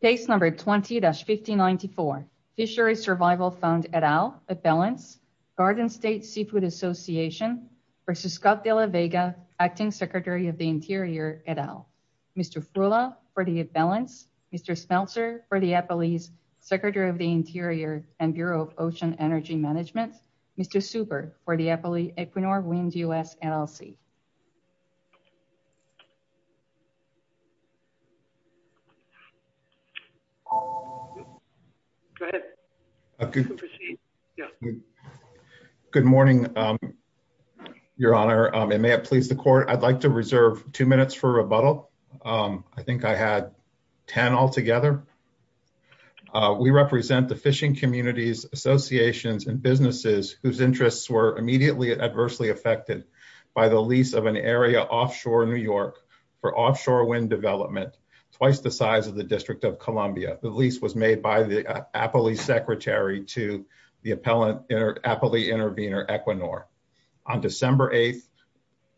Case number 20-1594, Fisheries Survival Fund et al, at balance, Garden State Seafood Association versus Scott de la Vega, Acting Secretary of the Interior et al. Mr. Frula, for the balance. Mr. Smeltzer, for the Eppley's, Secretary of the Interior and Bureau of Ocean Energy Management. Mr. Super, for the Eppley Equinor Wind U.S. LLC. Go ahead. Good morning, Your Honor, and may it please the Court, I'd like to reserve two minutes for rebuttal. I think I had 10 altogether. We represent the fishing communities, associations, and businesses whose interests were immediately adversely affected by the lease of an area offshore New York for offshore wind development, twice the size of the District of Columbia. The lease was made by the Eppley's Secretary to the appellant, Eppley Intervenor Equinor. On December 8,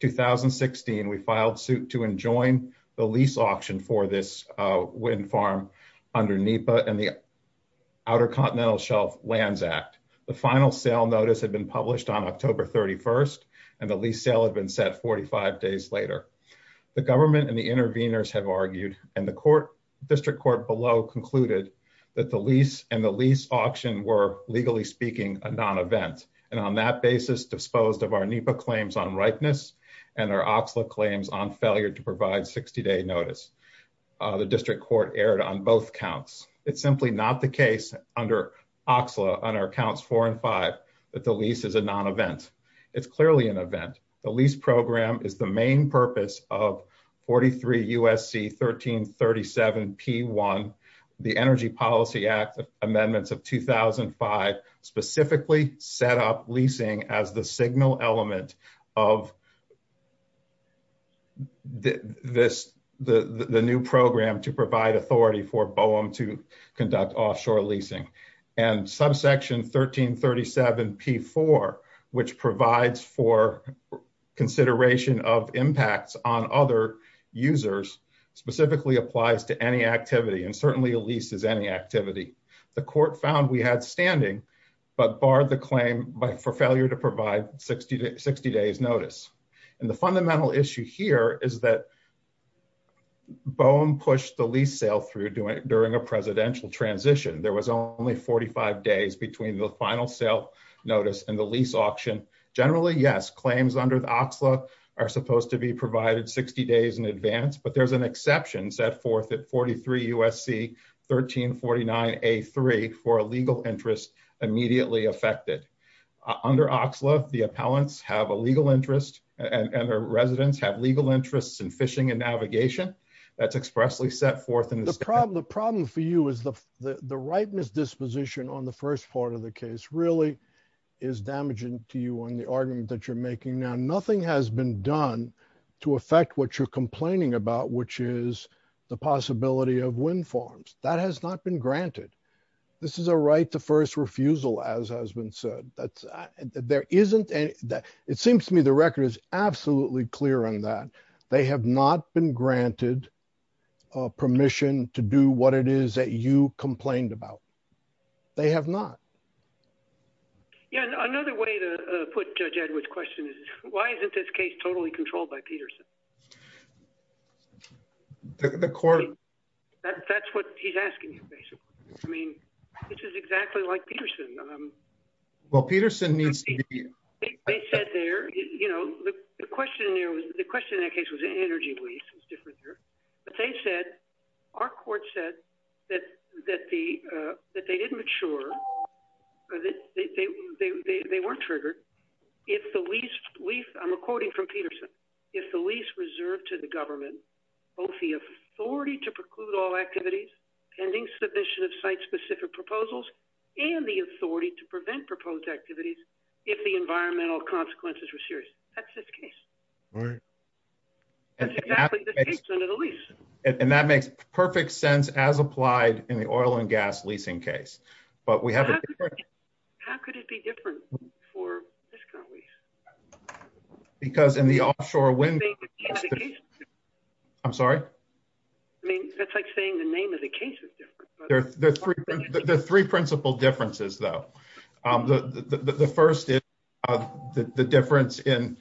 2016, we filed suit to enjoin the lease auction for this wind farm under NEPA and the Outer Continental Shelf Lands Act. The final sale notice had been published on October 31, and the lease sale had been set 45 days later. The government and the intervenors have argued, and the District Court below concluded, that the lease and the lease auction were, legally speaking, a non-event, and on that basis disposed of our NEPA claims on ripeness and our OXLA claims on failure to provide 60-day notice. The District Court erred on both counts. It's simply not the event. The lease program is the main purpose of 43 U.S.C. 1337 P.1, the Energy Policy Act Amendments of 2005, specifically set up leasing as the signal element of this, the new program to provide authority for BOEM to conduct offshore leasing, and subsection 1337 P.4, which provides for consideration of impacts on other users, specifically applies to any activity, and certainly a lease is any activity. The court found we had standing, but barred the claim for failure to provide 60-days notice, and the fundamental issue here is that BOEM pushed the lease sale through during a presidential transition. There was only 45 days between the final sale notice and the lease auction. Generally, yes, claims under the OXLA are supposed to be provided 60 days in advance, but there's an exception set forth at 43 U.S.C. 1349 A.3 for a legal interest immediately affected. Under OXLA, the appellants have a legal interest, and their residents have legal interests in fishing and navigation. That's expressly set forth in this. The problem for you is the right misdisposition on the first part of the case really is damaging to you on the argument that you're making now. Nothing has been done to affect what you're complaining about, which is the possibility of wind farms. That has not been granted. This is a right to first refusal, as has been said. It seems to me the record is absolutely clear on that. They have not been granted permission to do what it is that you complained about. They have not. Another way to put Judge Edward's question is, why isn't this case totally controlled by Peterson? That's what he's asking you, basically. I mean, this is exactly like Peterson. Well, Peterson needs to be here. They said there, you know, the question in that case was energy lease. It's different there. But they said, our court said that they didn't mature. They weren't triggered. I'm quoting from Peterson. If the lease reserved to the government, both the authority to preclude all activities, pending submission of site-specific proposals, and the authority to prevent proposed activities if the environmental consequences were serious. That's this case. And that makes perfect sense as applied in the oil and gas leasing case. How could it be different for discount lease? Because in the offshore wind... I'm sorry? I mean, that's like saying the name of the case is different. There are three principal differences, though. The first is the difference in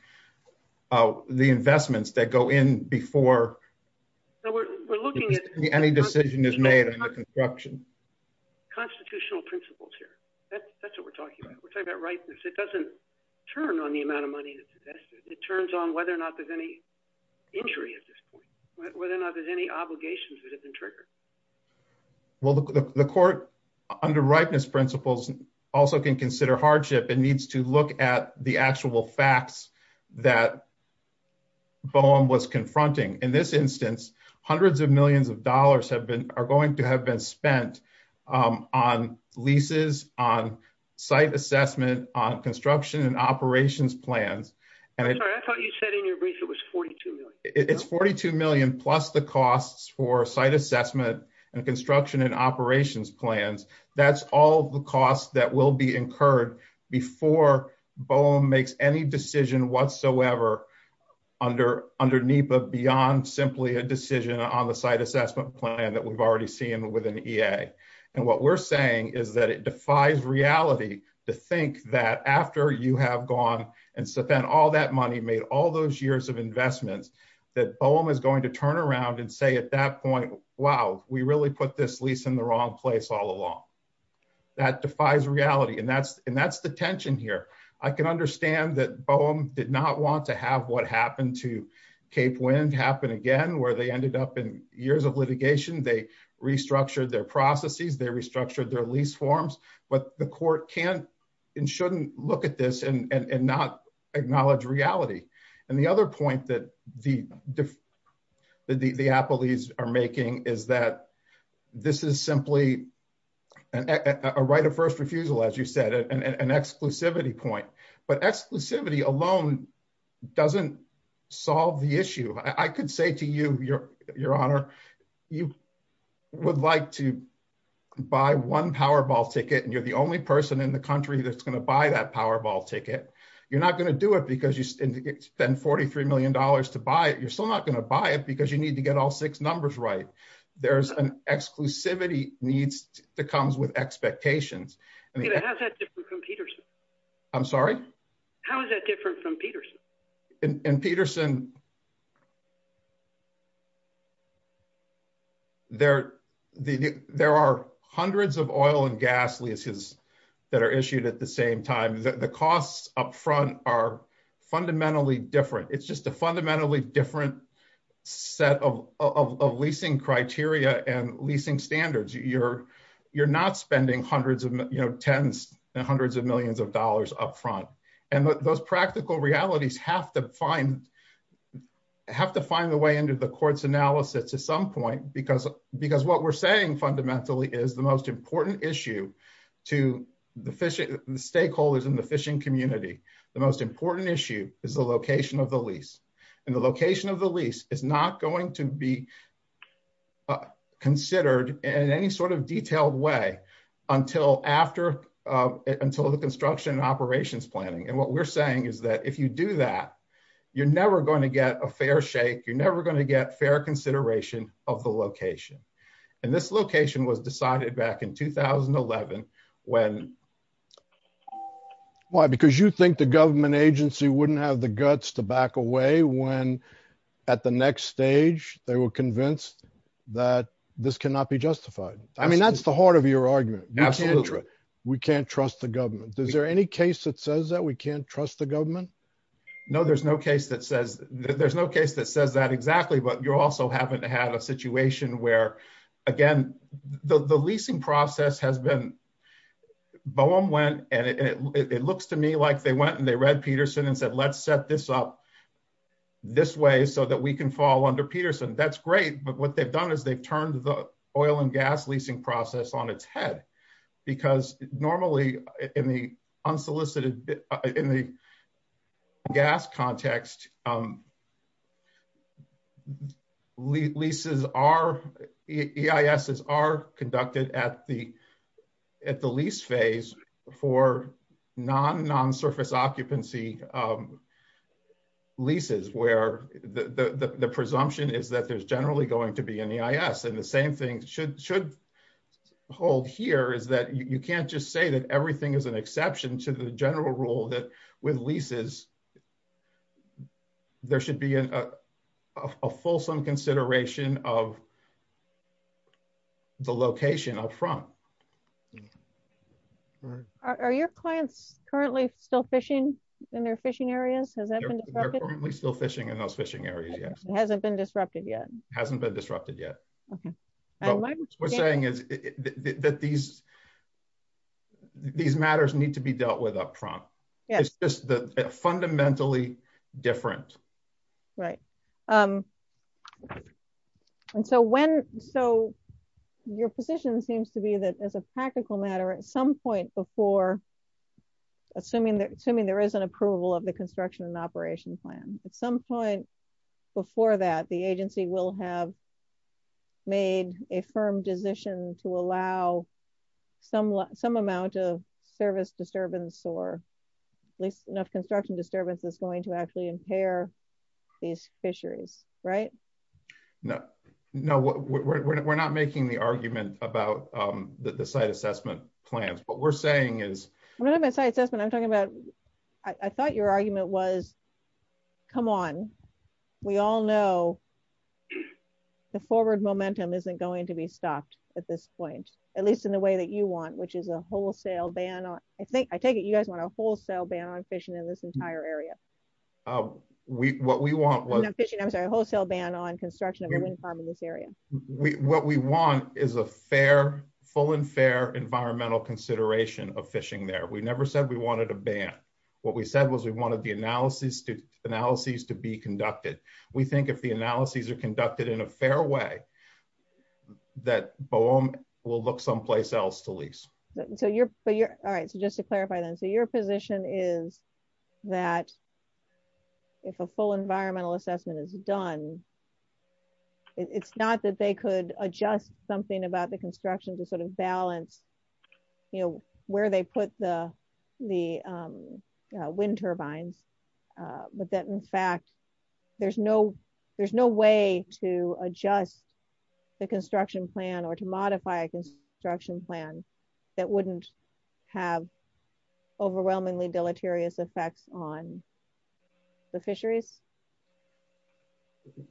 the investments that go in before any decision is made on the construction. Constitutional principles here. That's what we're talking about. We're talking about ripeness. It doesn't turn on the amount of money that's invested. It turns on whether or not there's injury at this point. Whether or not there's any obligations that have been triggered. Well, the court, under ripeness principles, also can consider hardship and needs to look at the actual facts that Boehm was confronting. In this instance, hundreds of millions of dollars are going to have been spent on leases, on site assessment, on construction and operations plans. I'm sorry. I thought you said in your brief it was 42 million. It's 42 million plus the costs for site assessment and construction and operations plans. That's all the costs that will be incurred before Boehm makes any decision whatsoever under NEPA beyond simply a decision on the site assessment plan that we've already seen within EA. And what we're saying is that it defies reality to think that after you have gone and spent all that money, made all those years of investments, that Boehm is going to turn around and say at that point, wow, we really put this lease in the wrong place all along. That defies reality. And that's the tension here. I can understand that Boehm did not want to have what happened to Cape Wind happen again, where they ended up in years of litigation. They restructured their processes. They restructured their lease forms. But the court can and shouldn't look at this and not acknowledge reality. And the other point that the appellees are making is that this is simply a right of first refusal, as you said, an exclusivity point. But exclusivity alone doesn't solve the issue. I could say to you, Your Honor, you would like to buy one Powerball ticket and you're the only person in the country that's going to buy that Powerball ticket. You're not going to do it because you spend $43 million to buy it. You're still not going to buy it because you need to get all six numbers right. There's an exclusivity needs that comes with expectations. How's that different from Peterson? I'm sorry? How is that different from Peterson? In Peterson, there are hundreds of oil and gas leases that are issued at the same time. The costs up front are fundamentally different. It's just a fundamentally different set of leasing criteria and leasing standards. You're not spending hundreds of tens and hundreds of millions of dollars up front. And those practical realities have to find the way into the court's analysis at some point, because what we're saying fundamentally is the most important issue to the stakeholders in the fishing community, the most important issue is the location of the lease. And the location of the lease is not going to be considered in any sort of detailed way until the construction and operations planning. And what we're saying is that if you do that, you're never going to get a fair shake. You're never going to get fair consideration of the location. And this location was decided back in 2011 when- Why? Because you think the government agency wouldn't have the guts to back away when at the next stage, they were convinced that this cannot be justified. I mean, that's the heart of your argument. We can't trust the government. Is there any case that says that we can't trust the government? No, there's no case that says that exactly. But you also happen to have a situation where, again, the leasing process has been- Boehm went and it looks to me like they went and they read Peterson and said, let's set this up. This way so that we can fall under Peterson. That's great. But what they've done is they've turned the oil and gas leasing process on its head. Because normally in the gas context, leases are- EISs are conducted at the lease phase for non-surface occupancy leases where the presumption is that there's generally going to be an EIS. And the same thing should hold here is that you can't just say that everything is an exception to the general rule that with leases, there should be a fulsome consideration of the location up front. Are your clients currently still fishing in their fishing areas? Has that been disrupted? They're currently still fishing in those fishing areas, yes. It hasn't been disrupted yet? It hasn't been disrupted yet. What I'm saying is that these matters need to be dealt with up front. It's just fundamentally different. Right. Your position seems to be that as a practical matter, at some point before, assuming there is an approval of the construction and operation plan, at some point before that, the agency will have made a firm decision to allow some amount of service disturbance or at least enough construction disturbance that's going to actually impair these fisheries, right? No. No, we're not making the argument about the site assessment plans. What we're saying is- When I say assessment, I'm talking about- I thought your argument was, come on, we all know the forward momentum isn't going to be stopped at this point, at least in the way that you want, which is a wholesale ban on- I take it you guys want a wholesale ban on fishing in this entire area? What we want was- Not fishing, I'm sorry, a wholesale ban on construction of a wind farm in this area. What we want is a fair, full and fair environmental consideration of fishing there. We never said we wanted a ban. What we said was we wanted the analyses to be conducted. We think if the analyses are conducted in a fair way, that BOEM will look someplace else to lease. So you're- All right, so just to clarify then, so your position is that if a full environmental assessment is done, it's not that they could adjust something about the construction to sort of balance where they put the wind turbines, but that in fact there's no way to adjust the construction plan or to modify a construction plan that wouldn't have overwhelmingly deleterious effects on the fisheries?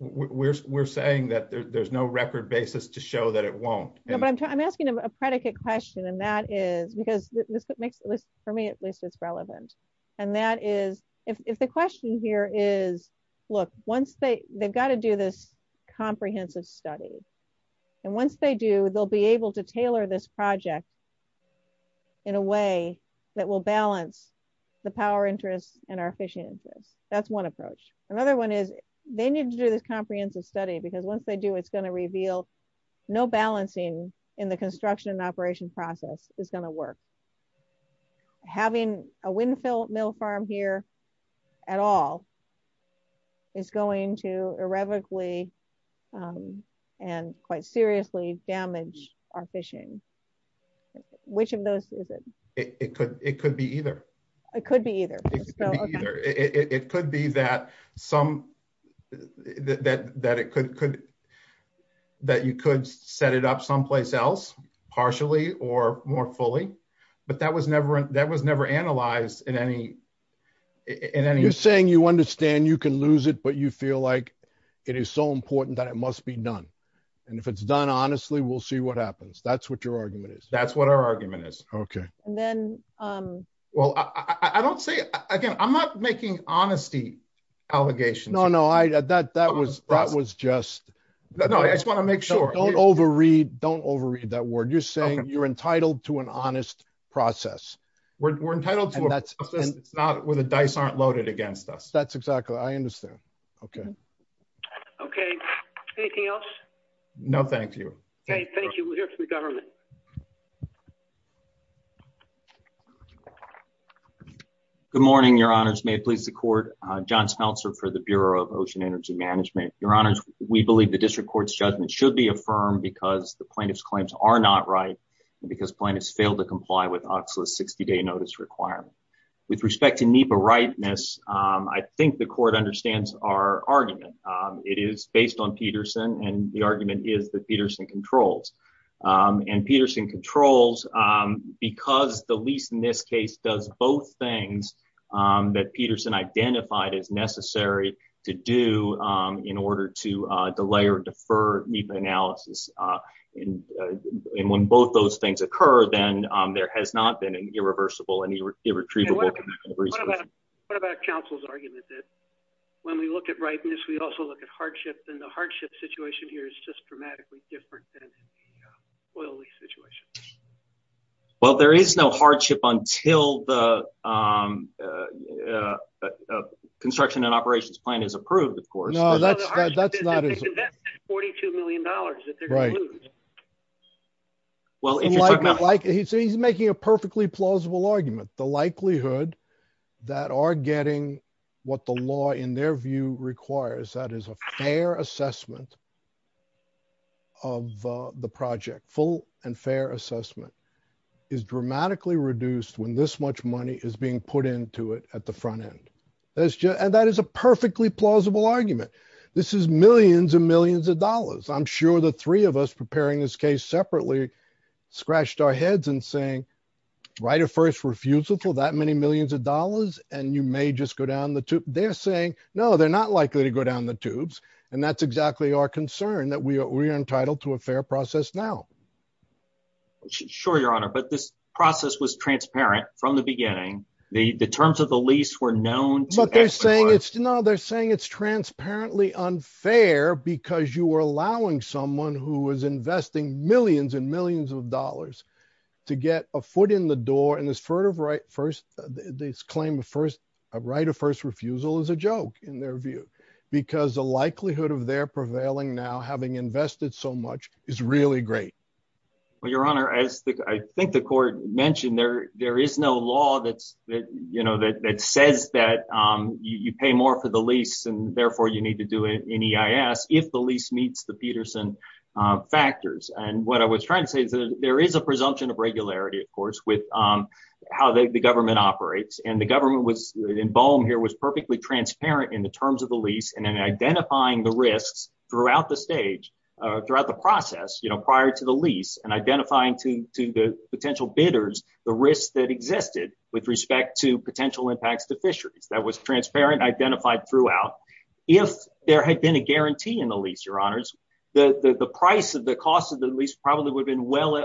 We're saying that there's no record basis to show that it won't. No, but I'm asking a predicate question, and that is- because for me at least it's relevant, and that is if the question here is, look, once they- they've got to do this comprehensive study, and once they do, they'll be able to tailor this project in a way that will balance the power interests and our fishing interests. That's one approach. Another one is they need to do this comprehensive study because once they do, it's going to reveal no balancing in the construction operation process is going to work. Having a windfill mill farm here at all is going to irrevocably and quite seriously damage our fishing. Which of those is it? It could be either. It could be either. It could be either. It could be that some- that it could- that you could set it up someplace else, partially or more fully, but that was never- that was never analyzed in any- in any- You're saying you understand you can lose it, but you feel like it is so important that it must be done, and if it's done honestly, we'll see what happens. That's what your argument is. That's what our argument is. Okay. And then- Well, I don't say- again, I'm not making honesty allegations. No, no, I- that- that was- that was just- No, I just want to make sure- Don't overread that word. You're saying you're entitled to an honest process. We're entitled to a process where the dice aren't loaded against us. That's exactly- I understand. Okay. Okay. Anything else? No, thank you. Okay, thank you. We'll hear from the government. Good morning, your honors. May it please the court. John Smeltzer for the Bureau of Ocean Energy Management. Your honors, we believe the district court's judgment should be affirmed because the plaintiff's claims are not right, and because plaintiffs failed to comply with OCSLA's 60-day notice requirement. With respect to NEPA rightness, I think the court understands our argument. It is based on Peterson, and the argument is that Peterson controls. And Peterson controls because the lease in this case does both things that Peterson identified as necessary to do in order to delay or defer NEPA analysis. And when both those things occur, then there has not been an irreversible and irretrievable- What about counsel's argument that when we look at rightness, we also look at hardship, and the hardship situation here is just dramatically different than the oil lease situation? Well, there is no hardship until the construction and operations plan is approved, of course. No, that's not- No, the hardship is that they can invest $42 million if they're going to lose. Right. Well, if you're talking about- He's making a perfectly plausible argument. The likelihood that are getting what the law, in their view, requires, that is a fair assessment of the project, full and fair assessment, is dramatically reduced when this much money is being put into it at the front end. And that is a perfectly plausible argument. This is millions and millions of dollars. I'm sure the three of us preparing this case separately scratched our heads and saying, right at first, that many millions of dollars, and you may just go down the tube. They're saying, no, they're not likely to go down the tubes. And that's exactly our concern, that we are entitled to a fair process now. Sure, Your Honor, but this process was transparent from the beginning. The terms of the lease were known- But they're saying it's- No, they're saying it's transparently unfair because you were allowing someone who was investing millions and millions of dollars to get a foot in the door, and this claim of right of first refusal is a joke, in their view, because the likelihood of their prevailing now, having invested so much, is really great. Well, Your Honor, as I think the court mentioned, there is no law that says that you pay more for the lease, and therefore you need to do an EIS if the lease meets the Peterson factors. And what I was trying to say is that there is a presumption of regularity, of course, with how the government operates. And the government was, in Bohm here, was perfectly transparent in the terms of the lease and in identifying the risks throughout the stage, throughout the process, prior to the lease, and identifying to the potential bidders, the risks that existed with respect to potential impacts to fisheries. That was transparent, identified throughout. If there had been a well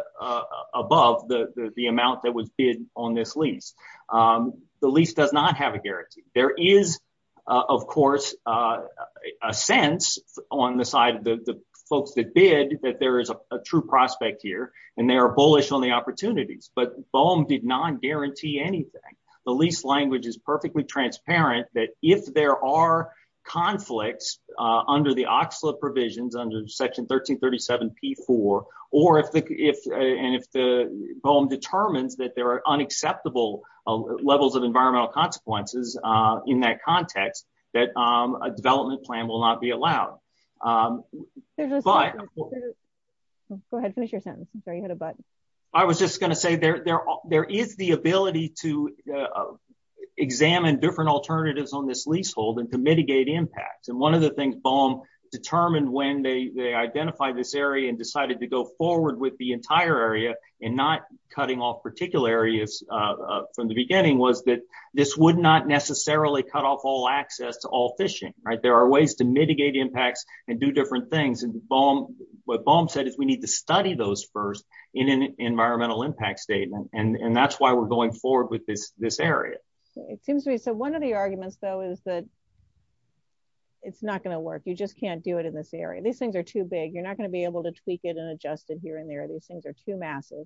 above the amount that was bid on this lease, the lease does not have a guarantee. There is, of course, a sense on the side of the folks that bid that there is a true prospect here, and they are bullish on the opportunities. But Bohm did not guarantee anything. The lease language is perfectly transparent that if there are conflicts under the Oxlade provisions, under section 1337 P4, and if Bohm determines that there are unacceptable levels of environmental consequences in that context, that a development plan will not be allowed. Go ahead, finish your sentence. I'm sorry, you had a button. I was just going to say there is the ability to examine different alternatives on this leasehold and to mitigate impacts. One of the things Bohm determined when they identified this area and decided to go forward with the entire area and not cutting off particular areas from the beginning was that this would not necessarily cut off all access to all fishing. There are ways to mitigate impacts and do different things. What Bohm said is we need to study those first in an environmental impact statement, and that's why we're going forward with this area. One of the arguments, though, is that it's not going to work. You just can't do it in this area. These things are too big. You're not going to be able to tweak it and adjust it here and there. These things are too massive,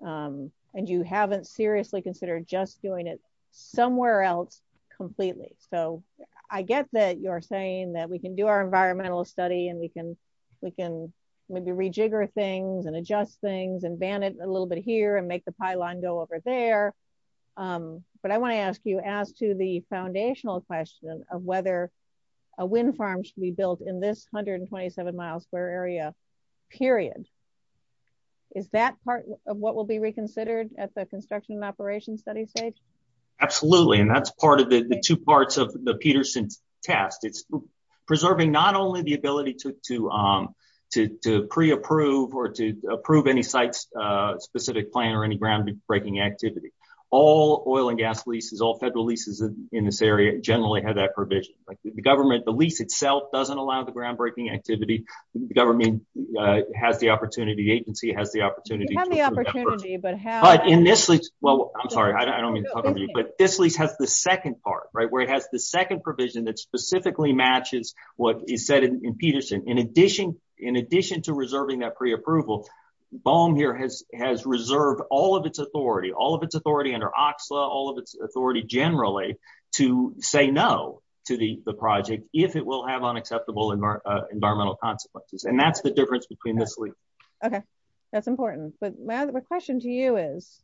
and you haven't seriously considered just doing it somewhere else completely. So I get that you're saying that we can do our environmental study, and we can maybe rejigger things and adjust things and ban it a little bit here and make the pylon go over there. But I want to ask the foundational question of whether a wind farm should be built in this 127-mile square area period. Is that part of what will be reconsidered at the construction and operations study stage? Absolutely, and that's part of the two parts of the Peterson test. It's preserving not only the ability to pre-approve or to approve any site-specific plan or any ground-breaking activity. All oil and gas leases, all federal leases in this area generally have that provision. The government, the lease itself doesn't allow the ground-breaking activity. The government has the opportunity, the agency has the opportunity. You have the opportunity, but how? But in this lease, well, I'm sorry, I don't mean to talk over you, but this lease has the second part, right, where it has the second provision that specifically matches what is said in Peterson. In addition to reserving that pre-approval, BOEM here has reserved all of its authority, all of its authority under OXLA, all of its authority generally to say no to the project if it will have unacceptable environmental consequences, and that's the difference between this lease. Okay, that's important, but my other question to you is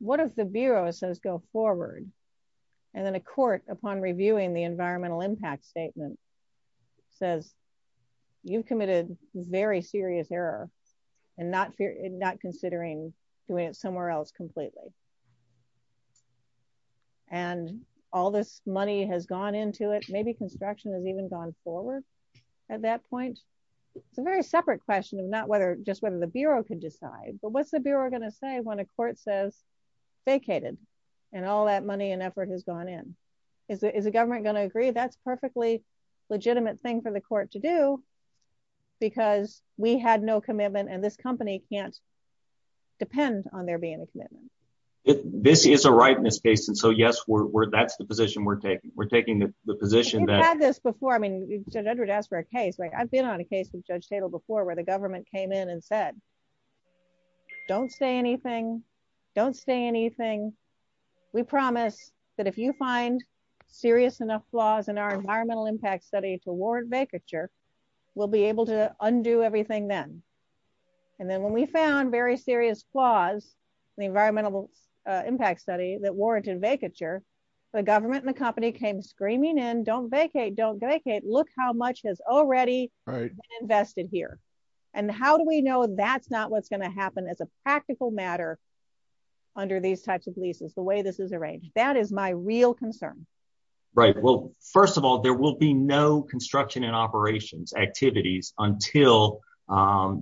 what if the Bureau says go forward and then a court upon reviewing the environmental impact statement says you've considered doing it somewhere else completely and all this money has gone into it, maybe construction has even gone forward at that point? It's a very separate question of not whether, just whether the Bureau could decide, but what's the Bureau going to say when a court says vacated and all that money and effort has gone in? Is the government going to agree that's perfectly legitimate thing for the court to do because we had no commitment and this company can't depend on there being a commitment? This is a rightness case, and so yes, that's the position we're taking. We're taking the position that... You've had this before. I mean, Judge Edward asked for a case. I've been on a case with Judge Tatel before where the government came in and said, don't say anything, don't say anything. We promise that if you find serious enough flaws in our environmental impact study toward vacature, we'll be able to undo everything then. And then when we found very serious flaws in the environmental impact study that warranted vacature, the government and the company came screaming in, don't vacate, don't vacate, look how much has already been invested here. And how do we know that's not what's going to happen as a practical matter under these types of leases, the way this is arranged? That is my real concern. Right. Well, first of all, there will be no construction and operations activities until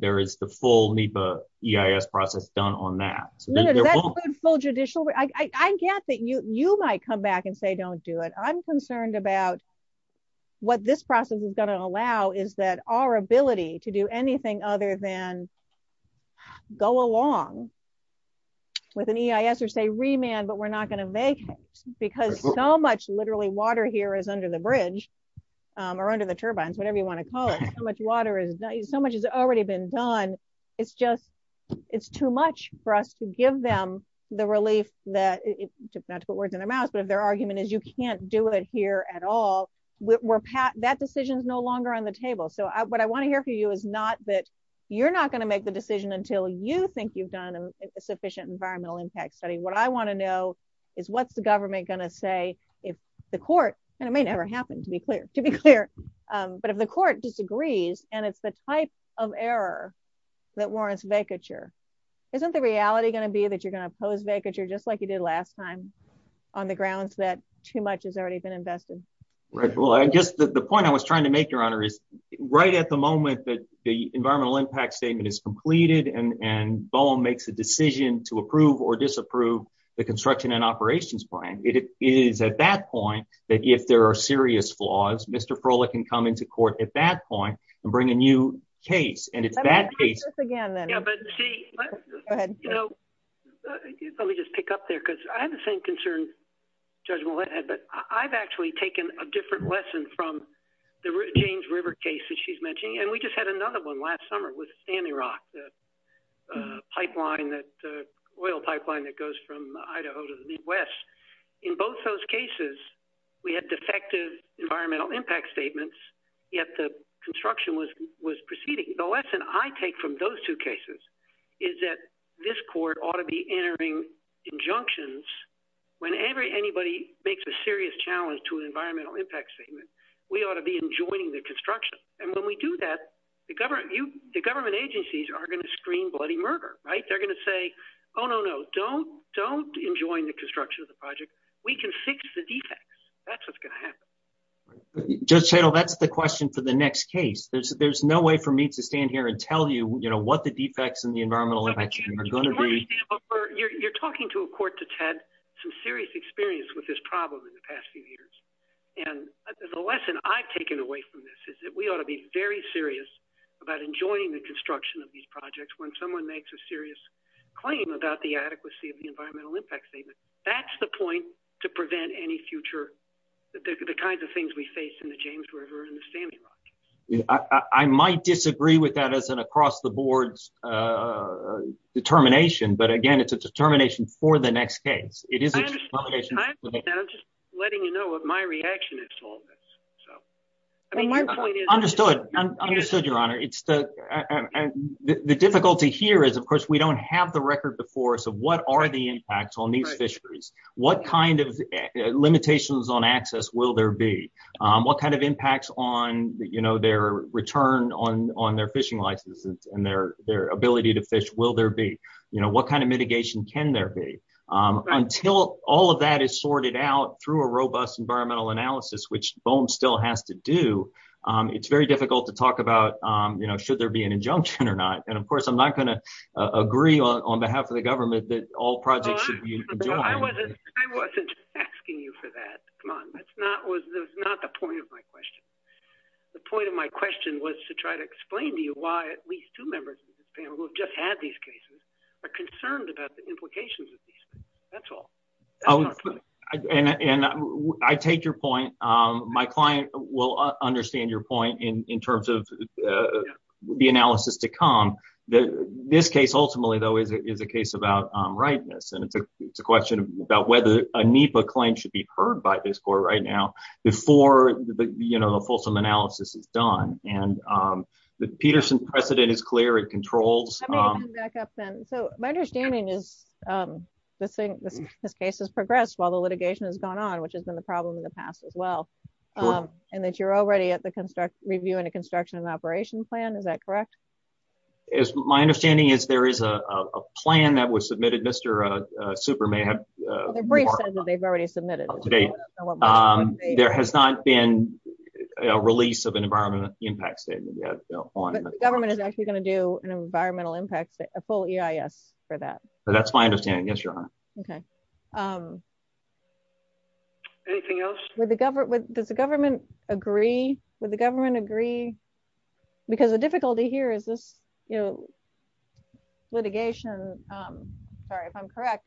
there is the full NEPA EIS process done on that. No, that's good full judicial... I get that you might come back and say, don't do it. I'm concerned about what this process is going to allow is that our ability to do anything other than go along with an EIS or say remand, but we're not going to vacate because so much literally water here is under the bridge or under the turbines, whatever you want to call it. So much water is so much has already been done. It's just, it's too much for us to give them the relief that, not to put words in their mouth, but if their argument is you can't do it here at all, that decision is no longer on the table. So what I want to hear from you is not that you're not going to make the decision until you think you've done a sufficient environmental impact study. What I want to know is what's the government going to say if the court, and it may never happen to be clear, but if the court disagrees and it's the type of error that warrants vacature, isn't the reality going to be that you're going to pose vacature just like you did last time on the grounds that too much has already been invested? Right. Well, I guess the point I was trying to make, your honor, is right at the moment that the environmental impact statement is completed and BOEM makes a decision to approve or disapprove the construction and operations plan, it is at that point that if there are serious flaws, Mr. Froehlich can come into court at that point and bring a new case. And it's that case. Let me just pick up there because I have the same concern, Judge Millett, but I've actually taken a different lesson from the James River case that she's mentioning, and we just had another one last summer with Stanley Rock, the oil pipeline that goes from Idaho to the Midwest. In both those cases, we had defective environmental impact statements, yet the construction was proceeding. The lesson I take from those two cases is that this court ought to be entering injunctions whenever anybody makes a serious challenge to an environmental impact statement, we ought to be enjoining the construction. And when we do that, the government agencies are going to scream bloody murder, right? They're going to say, oh, no, no, don't enjoin the construction of the project. We can fix the defects. That's what's going to happen. Judge Schoenel, that's the question for the next case. There's no way for me to stand here and tell you what the defects in the environmental impact statement are going to be. You're talking to a court that's had some serious experience with this problem in the past few years. And the lesson I've taken away from this is that we ought to be very serious about enjoining the construction of these projects when someone makes a serious claim about the adequacy of the environmental impact statement. That's the point to prevent any future, the kinds of things we face in the James River and the Sandy Rock. I might disagree with that as an across-the-board determination, but again, it's a determination for the next case. I understand. I'm just letting you know what my reaction is to all this. Understood, understood, your honor. The difficulty here is, of course, we don't have the record before us of what are the impacts on these fisheries. What kind of limitations on access will there be? What kind of impacts on their return on their fishing licenses and their ability to fish will there be? What kind of mitigation can there be? Until all of that is sorted out through a robust environmental analysis, which BOEM still has to do, it's very difficult to talk about should there be an injunction or not. And of course, I'm not going to agree on half of the government that all projects should be enjoined. I wasn't asking you for that. Come on. That's not the point of my question. The point of my question was to try to explain to you why at least two members of this panel who have just had these cases are concerned about the implications of these. That's all. I take your point. My client will understand your point in case about rightness. And it's a question about whether a NEPA claim should be heard by this court right now before the fulsome analysis is done. And the Peterson precedent is clear. It controls. So my understanding is this case has progressed while the litigation has gone on, which has been the problem in the past as well. And that you're already at the construct, reviewing a construction and operation plan. Is that correct? As my understanding is, there is a plan that was submitted. Mr. Super may have they've already submitted today. There has not been a release of an environment impact statement yet on government is actually going to do an environmental impact, a full EIS for that. That's my understanding. Yes, your honor. Okay. Anything else with the government? Does the government agree with the government agree? Because the difficulty here is this, you know, litigation, sorry, if I'm correct,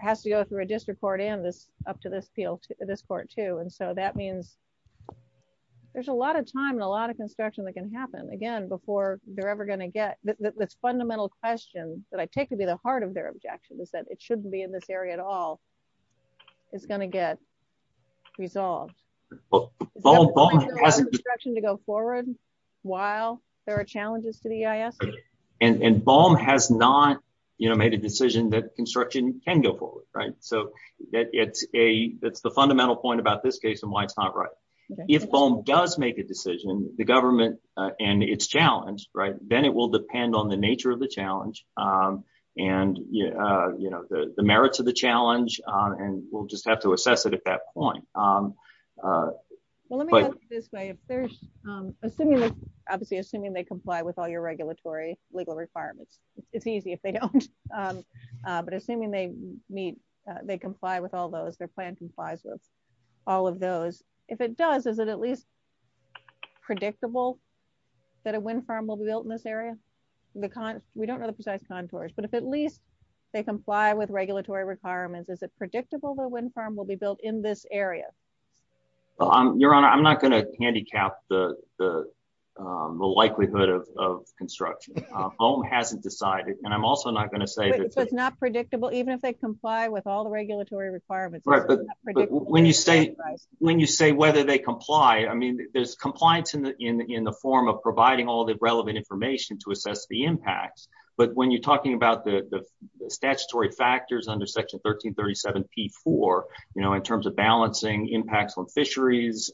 has to go through a district court and this up to this field, this court too. And so that means there's a lot of time and a lot of construction that can happen again, before they're ever going to get this fundamental question that I take to be the heart of their objection is that it shouldn't be in this area at all. It's going to get resolved to go forward while there are challenges to the EIS. And, and bomb has not, you know, made a decision that construction can go forward, right? So that it's a, that's the fundamental point about this case and why it's not right. If foam does make a decision, the government and it's challenged, right, then it will depend on nature of the challenge. And, you know, the merits of the challenge, and we'll just have to assess it at that point. Well, let me put it this way. Assuming, obviously, assuming they comply with all your regulatory legal requirements, it's easy if they don't. But assuming they meet, they comply with all those, their plan complies with all of those, if it does, is it at least predictable that a wind farm will be built in this area? Because we don't know the precise contours, but if at least they comply with regulatory requirements, is it predictable that wind farm will be built in this area? Your Honor, I'm not going to handicap the likelihood of construction. Home hasn't decided. And I'm also not going to say that it's not predictable, even if they comply with all the regulatory requirements. Right. But when you say, when you say whether they comply, I mean, there's compliance in the form of providing all the relevant information to assess the impacts. But when you're talking about the statutory factors under Section 1337 P4, you know, in terms of balancing impacts on fisheries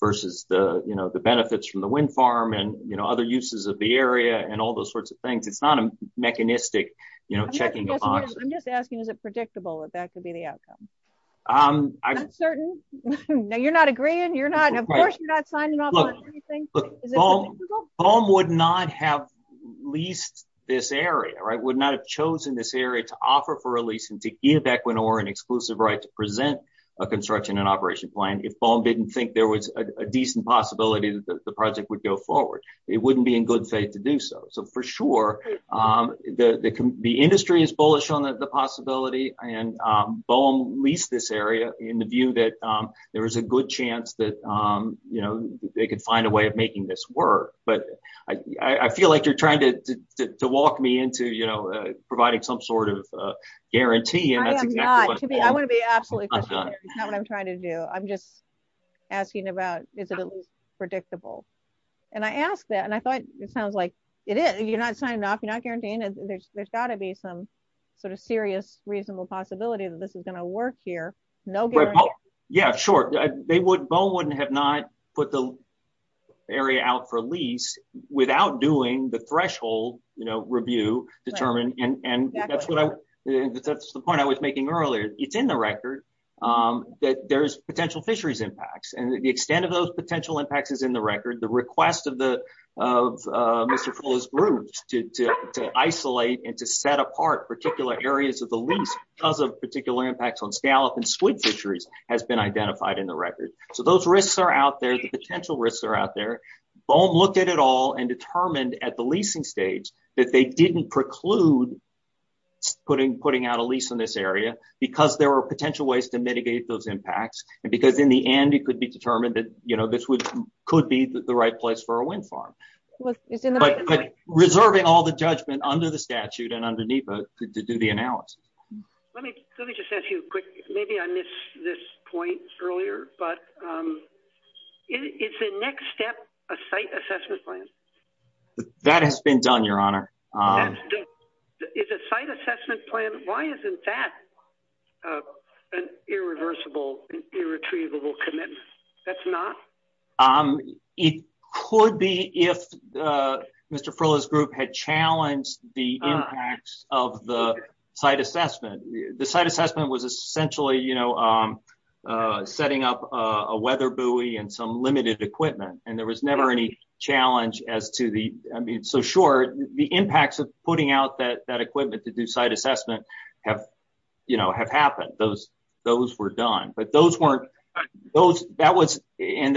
versus the, you know, the benefits from the wind farm and, you know, other uses of the area and all those sorts of things, it's not a mechanistic, you know, checking. I'm just asking, is it predictable that that could be the outcome? I'm certain. No, you're not agreeing. You're not. Of course, you're not signing off on anything. BOEM would not have leased this area, right? Would not have chosen this area to offer for a lease and to give Equinor an exclusive right to present a construction and operation plan if BOEM didn't think there was a decent possibility that the project would go forward. It wouldn't be in good faith to do so. So for sure, the industry is bullish on the possibility and BOEM leased this area in the view that there was a good chance that, you know, they could find a way of making this work. But I feel like you're trying to walk me into, you know, providing some sort of guarantee. I am not. I want to be absolutely clear. It's not what I'm trying to do. I'm just asking about, is it at least predictable? And I asked that, and I thought it sounds like it is. You're not signing off. You're not guaranteeing. There's got to be some sort of serious, reasonable possibility that this is going to work here. No guarantee. Yeah, sure. BOEM wouldn't have not put the area out for lease without doing the threshold, you know, review determined. And that's what I, that's the point I was making earlier. It's in the record that there's potential fisheries impacts. And the extent of those potential impacts is in the record. The request of Mr. Fuller's group to isolate and to set apart particular areas of the lease because of particular impacts on scallop and squid fisheries has been identified in the record. So those risks are out there. The potential risks are out there. BOEM looked at it all and determined at the leasing stage that they didn't preclude putting out a lease in this area because there were potential ways to mitigate those impacts. And because in the end, it could be determined that, you know, this would, could be the right place for a wind farm. But reserving all the judgment under the statute and to do the analysis. Let me, let me just ask you a quick, maybe I missed this point earlier, but it's a next step, a site assessment plan. That has been done, Your Honor. It's a site assessment plan. Why isn't that an irreversible, irretrievable commitment? That's not true. It could be if Mr. Fuller's group had challenged the impacts of the site assessment. The site assessment was essentially, you know, setting up a weather buoy and some limited equipment. And there was never any challenge as to the, I mean, so short, the impacts of putting out that, that equipment to do site assessment have, you know, have happened. Those, those were done, but those weren't, those, that was, and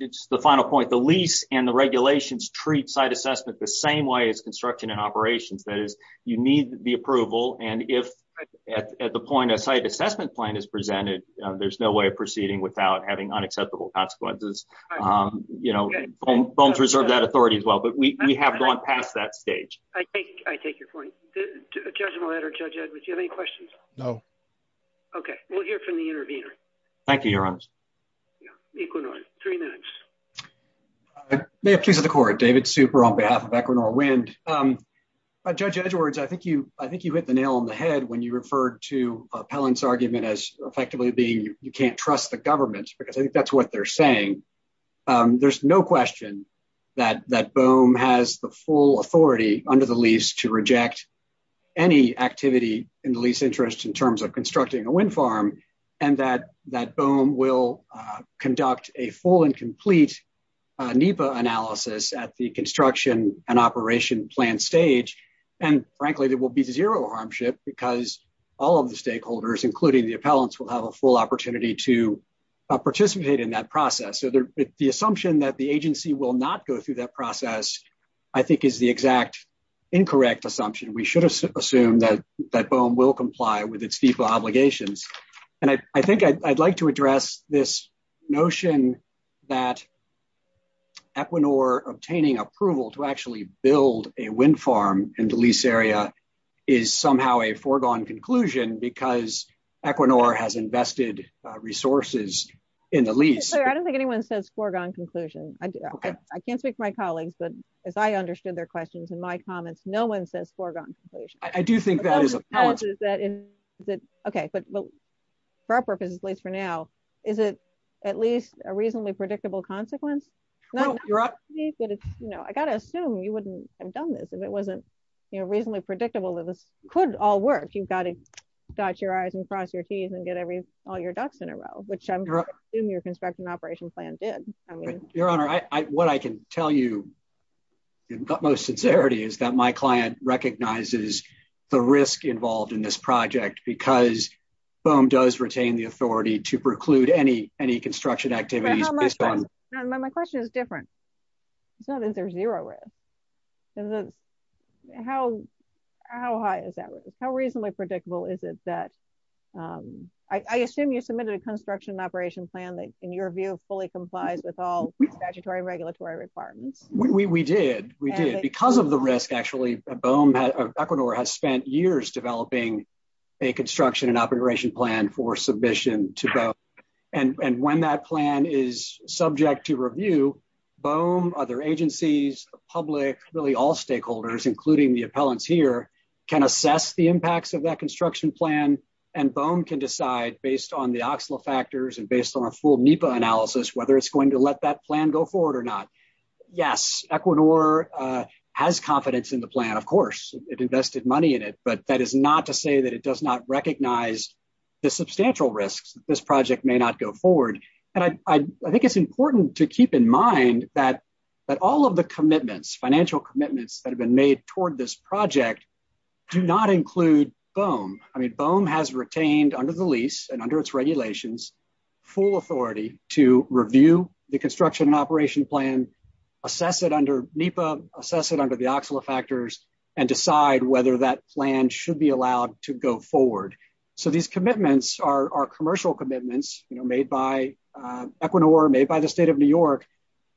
it's the final point, the lease and the regulations treat site assessment the same way as construction and operations. That is, you need the approval. And if at the point a site assessment plan is presented, there's no way of proceeding without having unacceptable consequences. You know, BOEMs reserve that authority as well, but we have gone past that stage. I take your point. Judge Millett or Judge Edwards, do you have any questions? No. Okay. We'll hear from the intervener. Thank you, Your Honors. Equinor, three minutes. May it please the court, David Super on behalf of Equinor Wind. Judge Edwards, I think you, I think you hit the nail on the head when you referred to Pellon's argument as effectively being, you can't trust the government because I think that's what they're saying. There's no question that, that BOEM has the full authority under the lease to reject any activity in the interest in terms of constructing a wind farm. And that, that BOEM will conduct a full and complete NEPA analysis at the construction and operation plan stage. And frankly, there will be zero harmship because all of the stakeholders, including the appellants will have a full opportunity to participate in that process. So the assumption that the agency will not go through that process, I think is the exact incorrect assumption. We should assume that that BOEM will comply with its DEPA obligations. And I think I'd like to address this notion that Equinor obtaining approval to actually build a wind farm in the lease area is somehow a foregone conclusion because Equinor has invested resources in the lease. I don't think anyone says foregone conclusion. I can't speak for my colleagues, but as I understood their questions in my comments, no one says foregone conclusion. Okay. But for our purposes, at least for now, is it at least a reasonably predictable consequence? I got to assume you wouldn't have done this if it wasn't, you know, reasonably predictable that this could all work. You've got to dot your I's and cross your T's and get all your ducks in a row, which I'm sure your tell you in utmost sincerity is that my client recognizes the risk involved in this project because BOEM does retain the authority to preclude any construction activities. My question is different. It's not that there's zero risk. How reasonably predictable is it that I assume you submitted a construction operation plan that in your view fully complies with all regulatory requirements? We did. We did. Because of the risk, actually, BOEM, Equinor has spent years developing a construction and operation plan for submission to BOEM. And when that plan is subject to review, BOEM, other agencies, the public, really all stakeholders, including the appellants here, can assess the impacts of that construction plan, and BOEM can decide based on the OXLA factors and based on a full NEPA analysis whether it's to let that plan go forward or not. Yes, Equinor has confidence in the plan. Of course, it invested money in it, but that is not to say that it does not recognize the substantial risks that this project may not go forward. And I think it's important to keep in mind that all of the commitments, financial commitments that have been made toward this project do not include BOEM. I have full authority to review the construction and operation plan, assess it under NEPA, assess it under the OXLA factors, and decide whether that plan should be allowed to go forward. So these commitments are commercial commitments made by Equinor, made by the state of New York,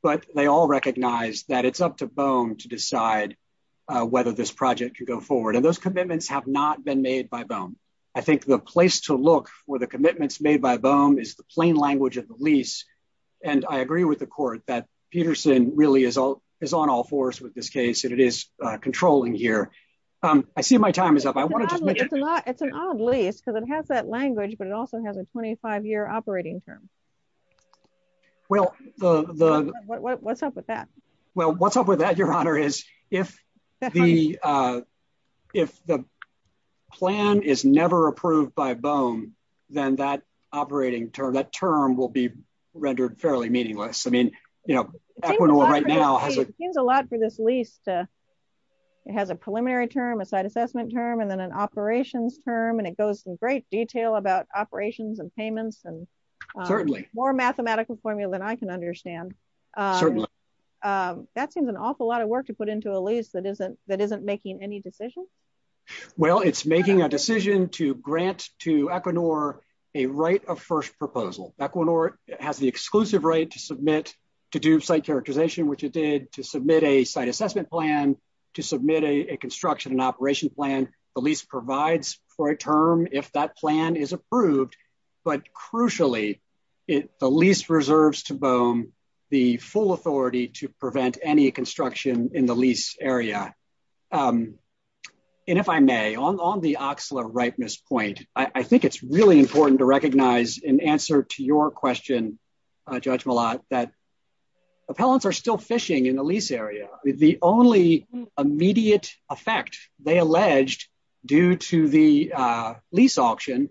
but they all recognize that it's up to BOEM to decide whether this project can go forward. And those commitments have not been made by BOEM. I think the place to look for the plain language of the lease, and I agree with the court that Peterson really is on all fours with this case and it is controlling here. I see my time is up. It's an odd lease because it has that language, but it also has a 25-year operating term. What's up with that? Well, what's up with that, Your Honor, is if the plan is never approved by BOEM, then that operating term, that term will be rendered fairly meaningless. I mean, you know, Equinor right now has a... It seems a lot for this lease to... It has a preliminary term, a site assessment term, and then an operations term, and it goes in great detail about operations and payments and... Certainly. More mathematical formula than I can understand. Certainly. That seems an awful lot of work to put into a lease that isn't making any decision. Well, it's making a decision to grant to Equinor a right of first proposal. Equinor has the exclusive right to submit, to do site characterization, which it did, to submit a site assessment plan, to submit a construction and operation plan. The lease provides for a term if that plan is approved, but crucially, the lease reserves to BOEM the full authority to prevent any construction in the lease area. And if I may, on the Oxla ripeness point, I think it's really important to recognize in answer to your question, Judge due to the lease auction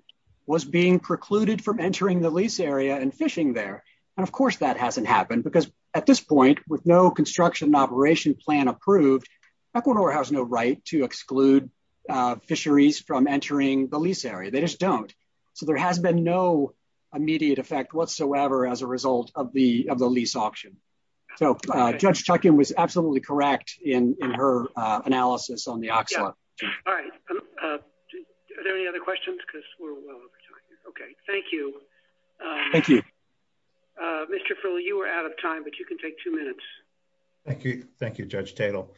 was being precluded from entering the lease area and fishing there. And of course that hasn't happened because at this point, with no construction and operation plan approved, Equinor has no right to exclude fisheries from entering the lease area. They just don't. So there has been no immediate effect whatsoever as a result of the lease auction. So Judge Tuchin was absolutely correct in her analysis on the Oxla. All right. Are there any other questions? Because we're well over time. Okay. Thank you. Thank you. Mr. Fuller, you were out of time, but you can take two minutes. Thank you. Thank you, Judge Tatel.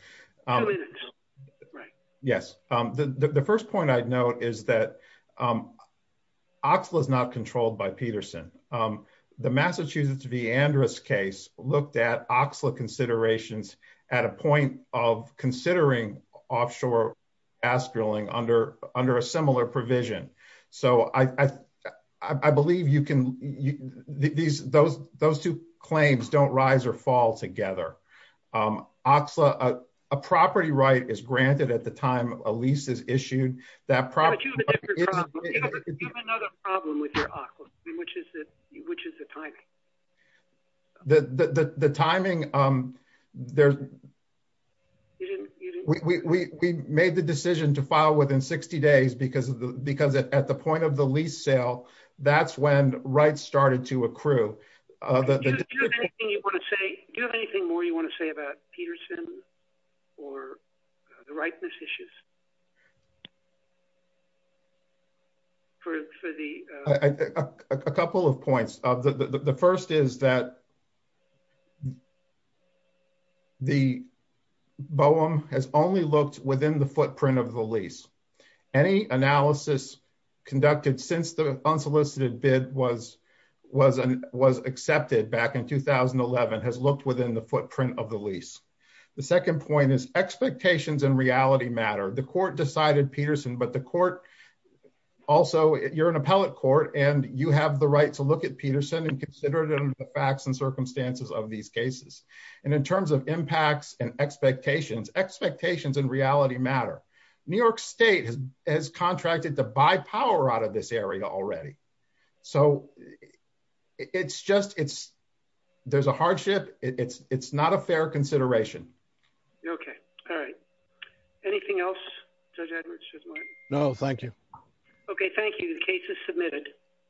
Yes. The first point I'd note is that Oxla is not controlled by Peterson. The Massachusetts Viandris case looked at Oxla considerations at a point of considering offshore gas drilling under a similar provision. So I believe those two claims don't rise or fall together. A property right is granted at the time. We made the decision to file within 60 days because at the point of the lease sale, that's when rights started to accrue. Do you have anything more you want to say about Peterson or the rightness issues? A couple of points. The first is that the BOEM has only looked within the footprint of the lease. Any analysis conducted since the unsolicited bid was accepted back in 2011 has looked within the footprint of the lease. The second point is expectations and reality matter. The court decided Peterson, but the court also, you're an appellate court, and you have the right to look at Peterson and consider them the facts and circumstances of these cases. And in terms of impacts and expectations, expectations and reality matter. New York State has contracted to buy power out of this area already. So it's just, it's, there's a hardship. It's not a fair consideration. Okay. All right. Anything else? No, thank you. Okay. Thank you. The case is submitted.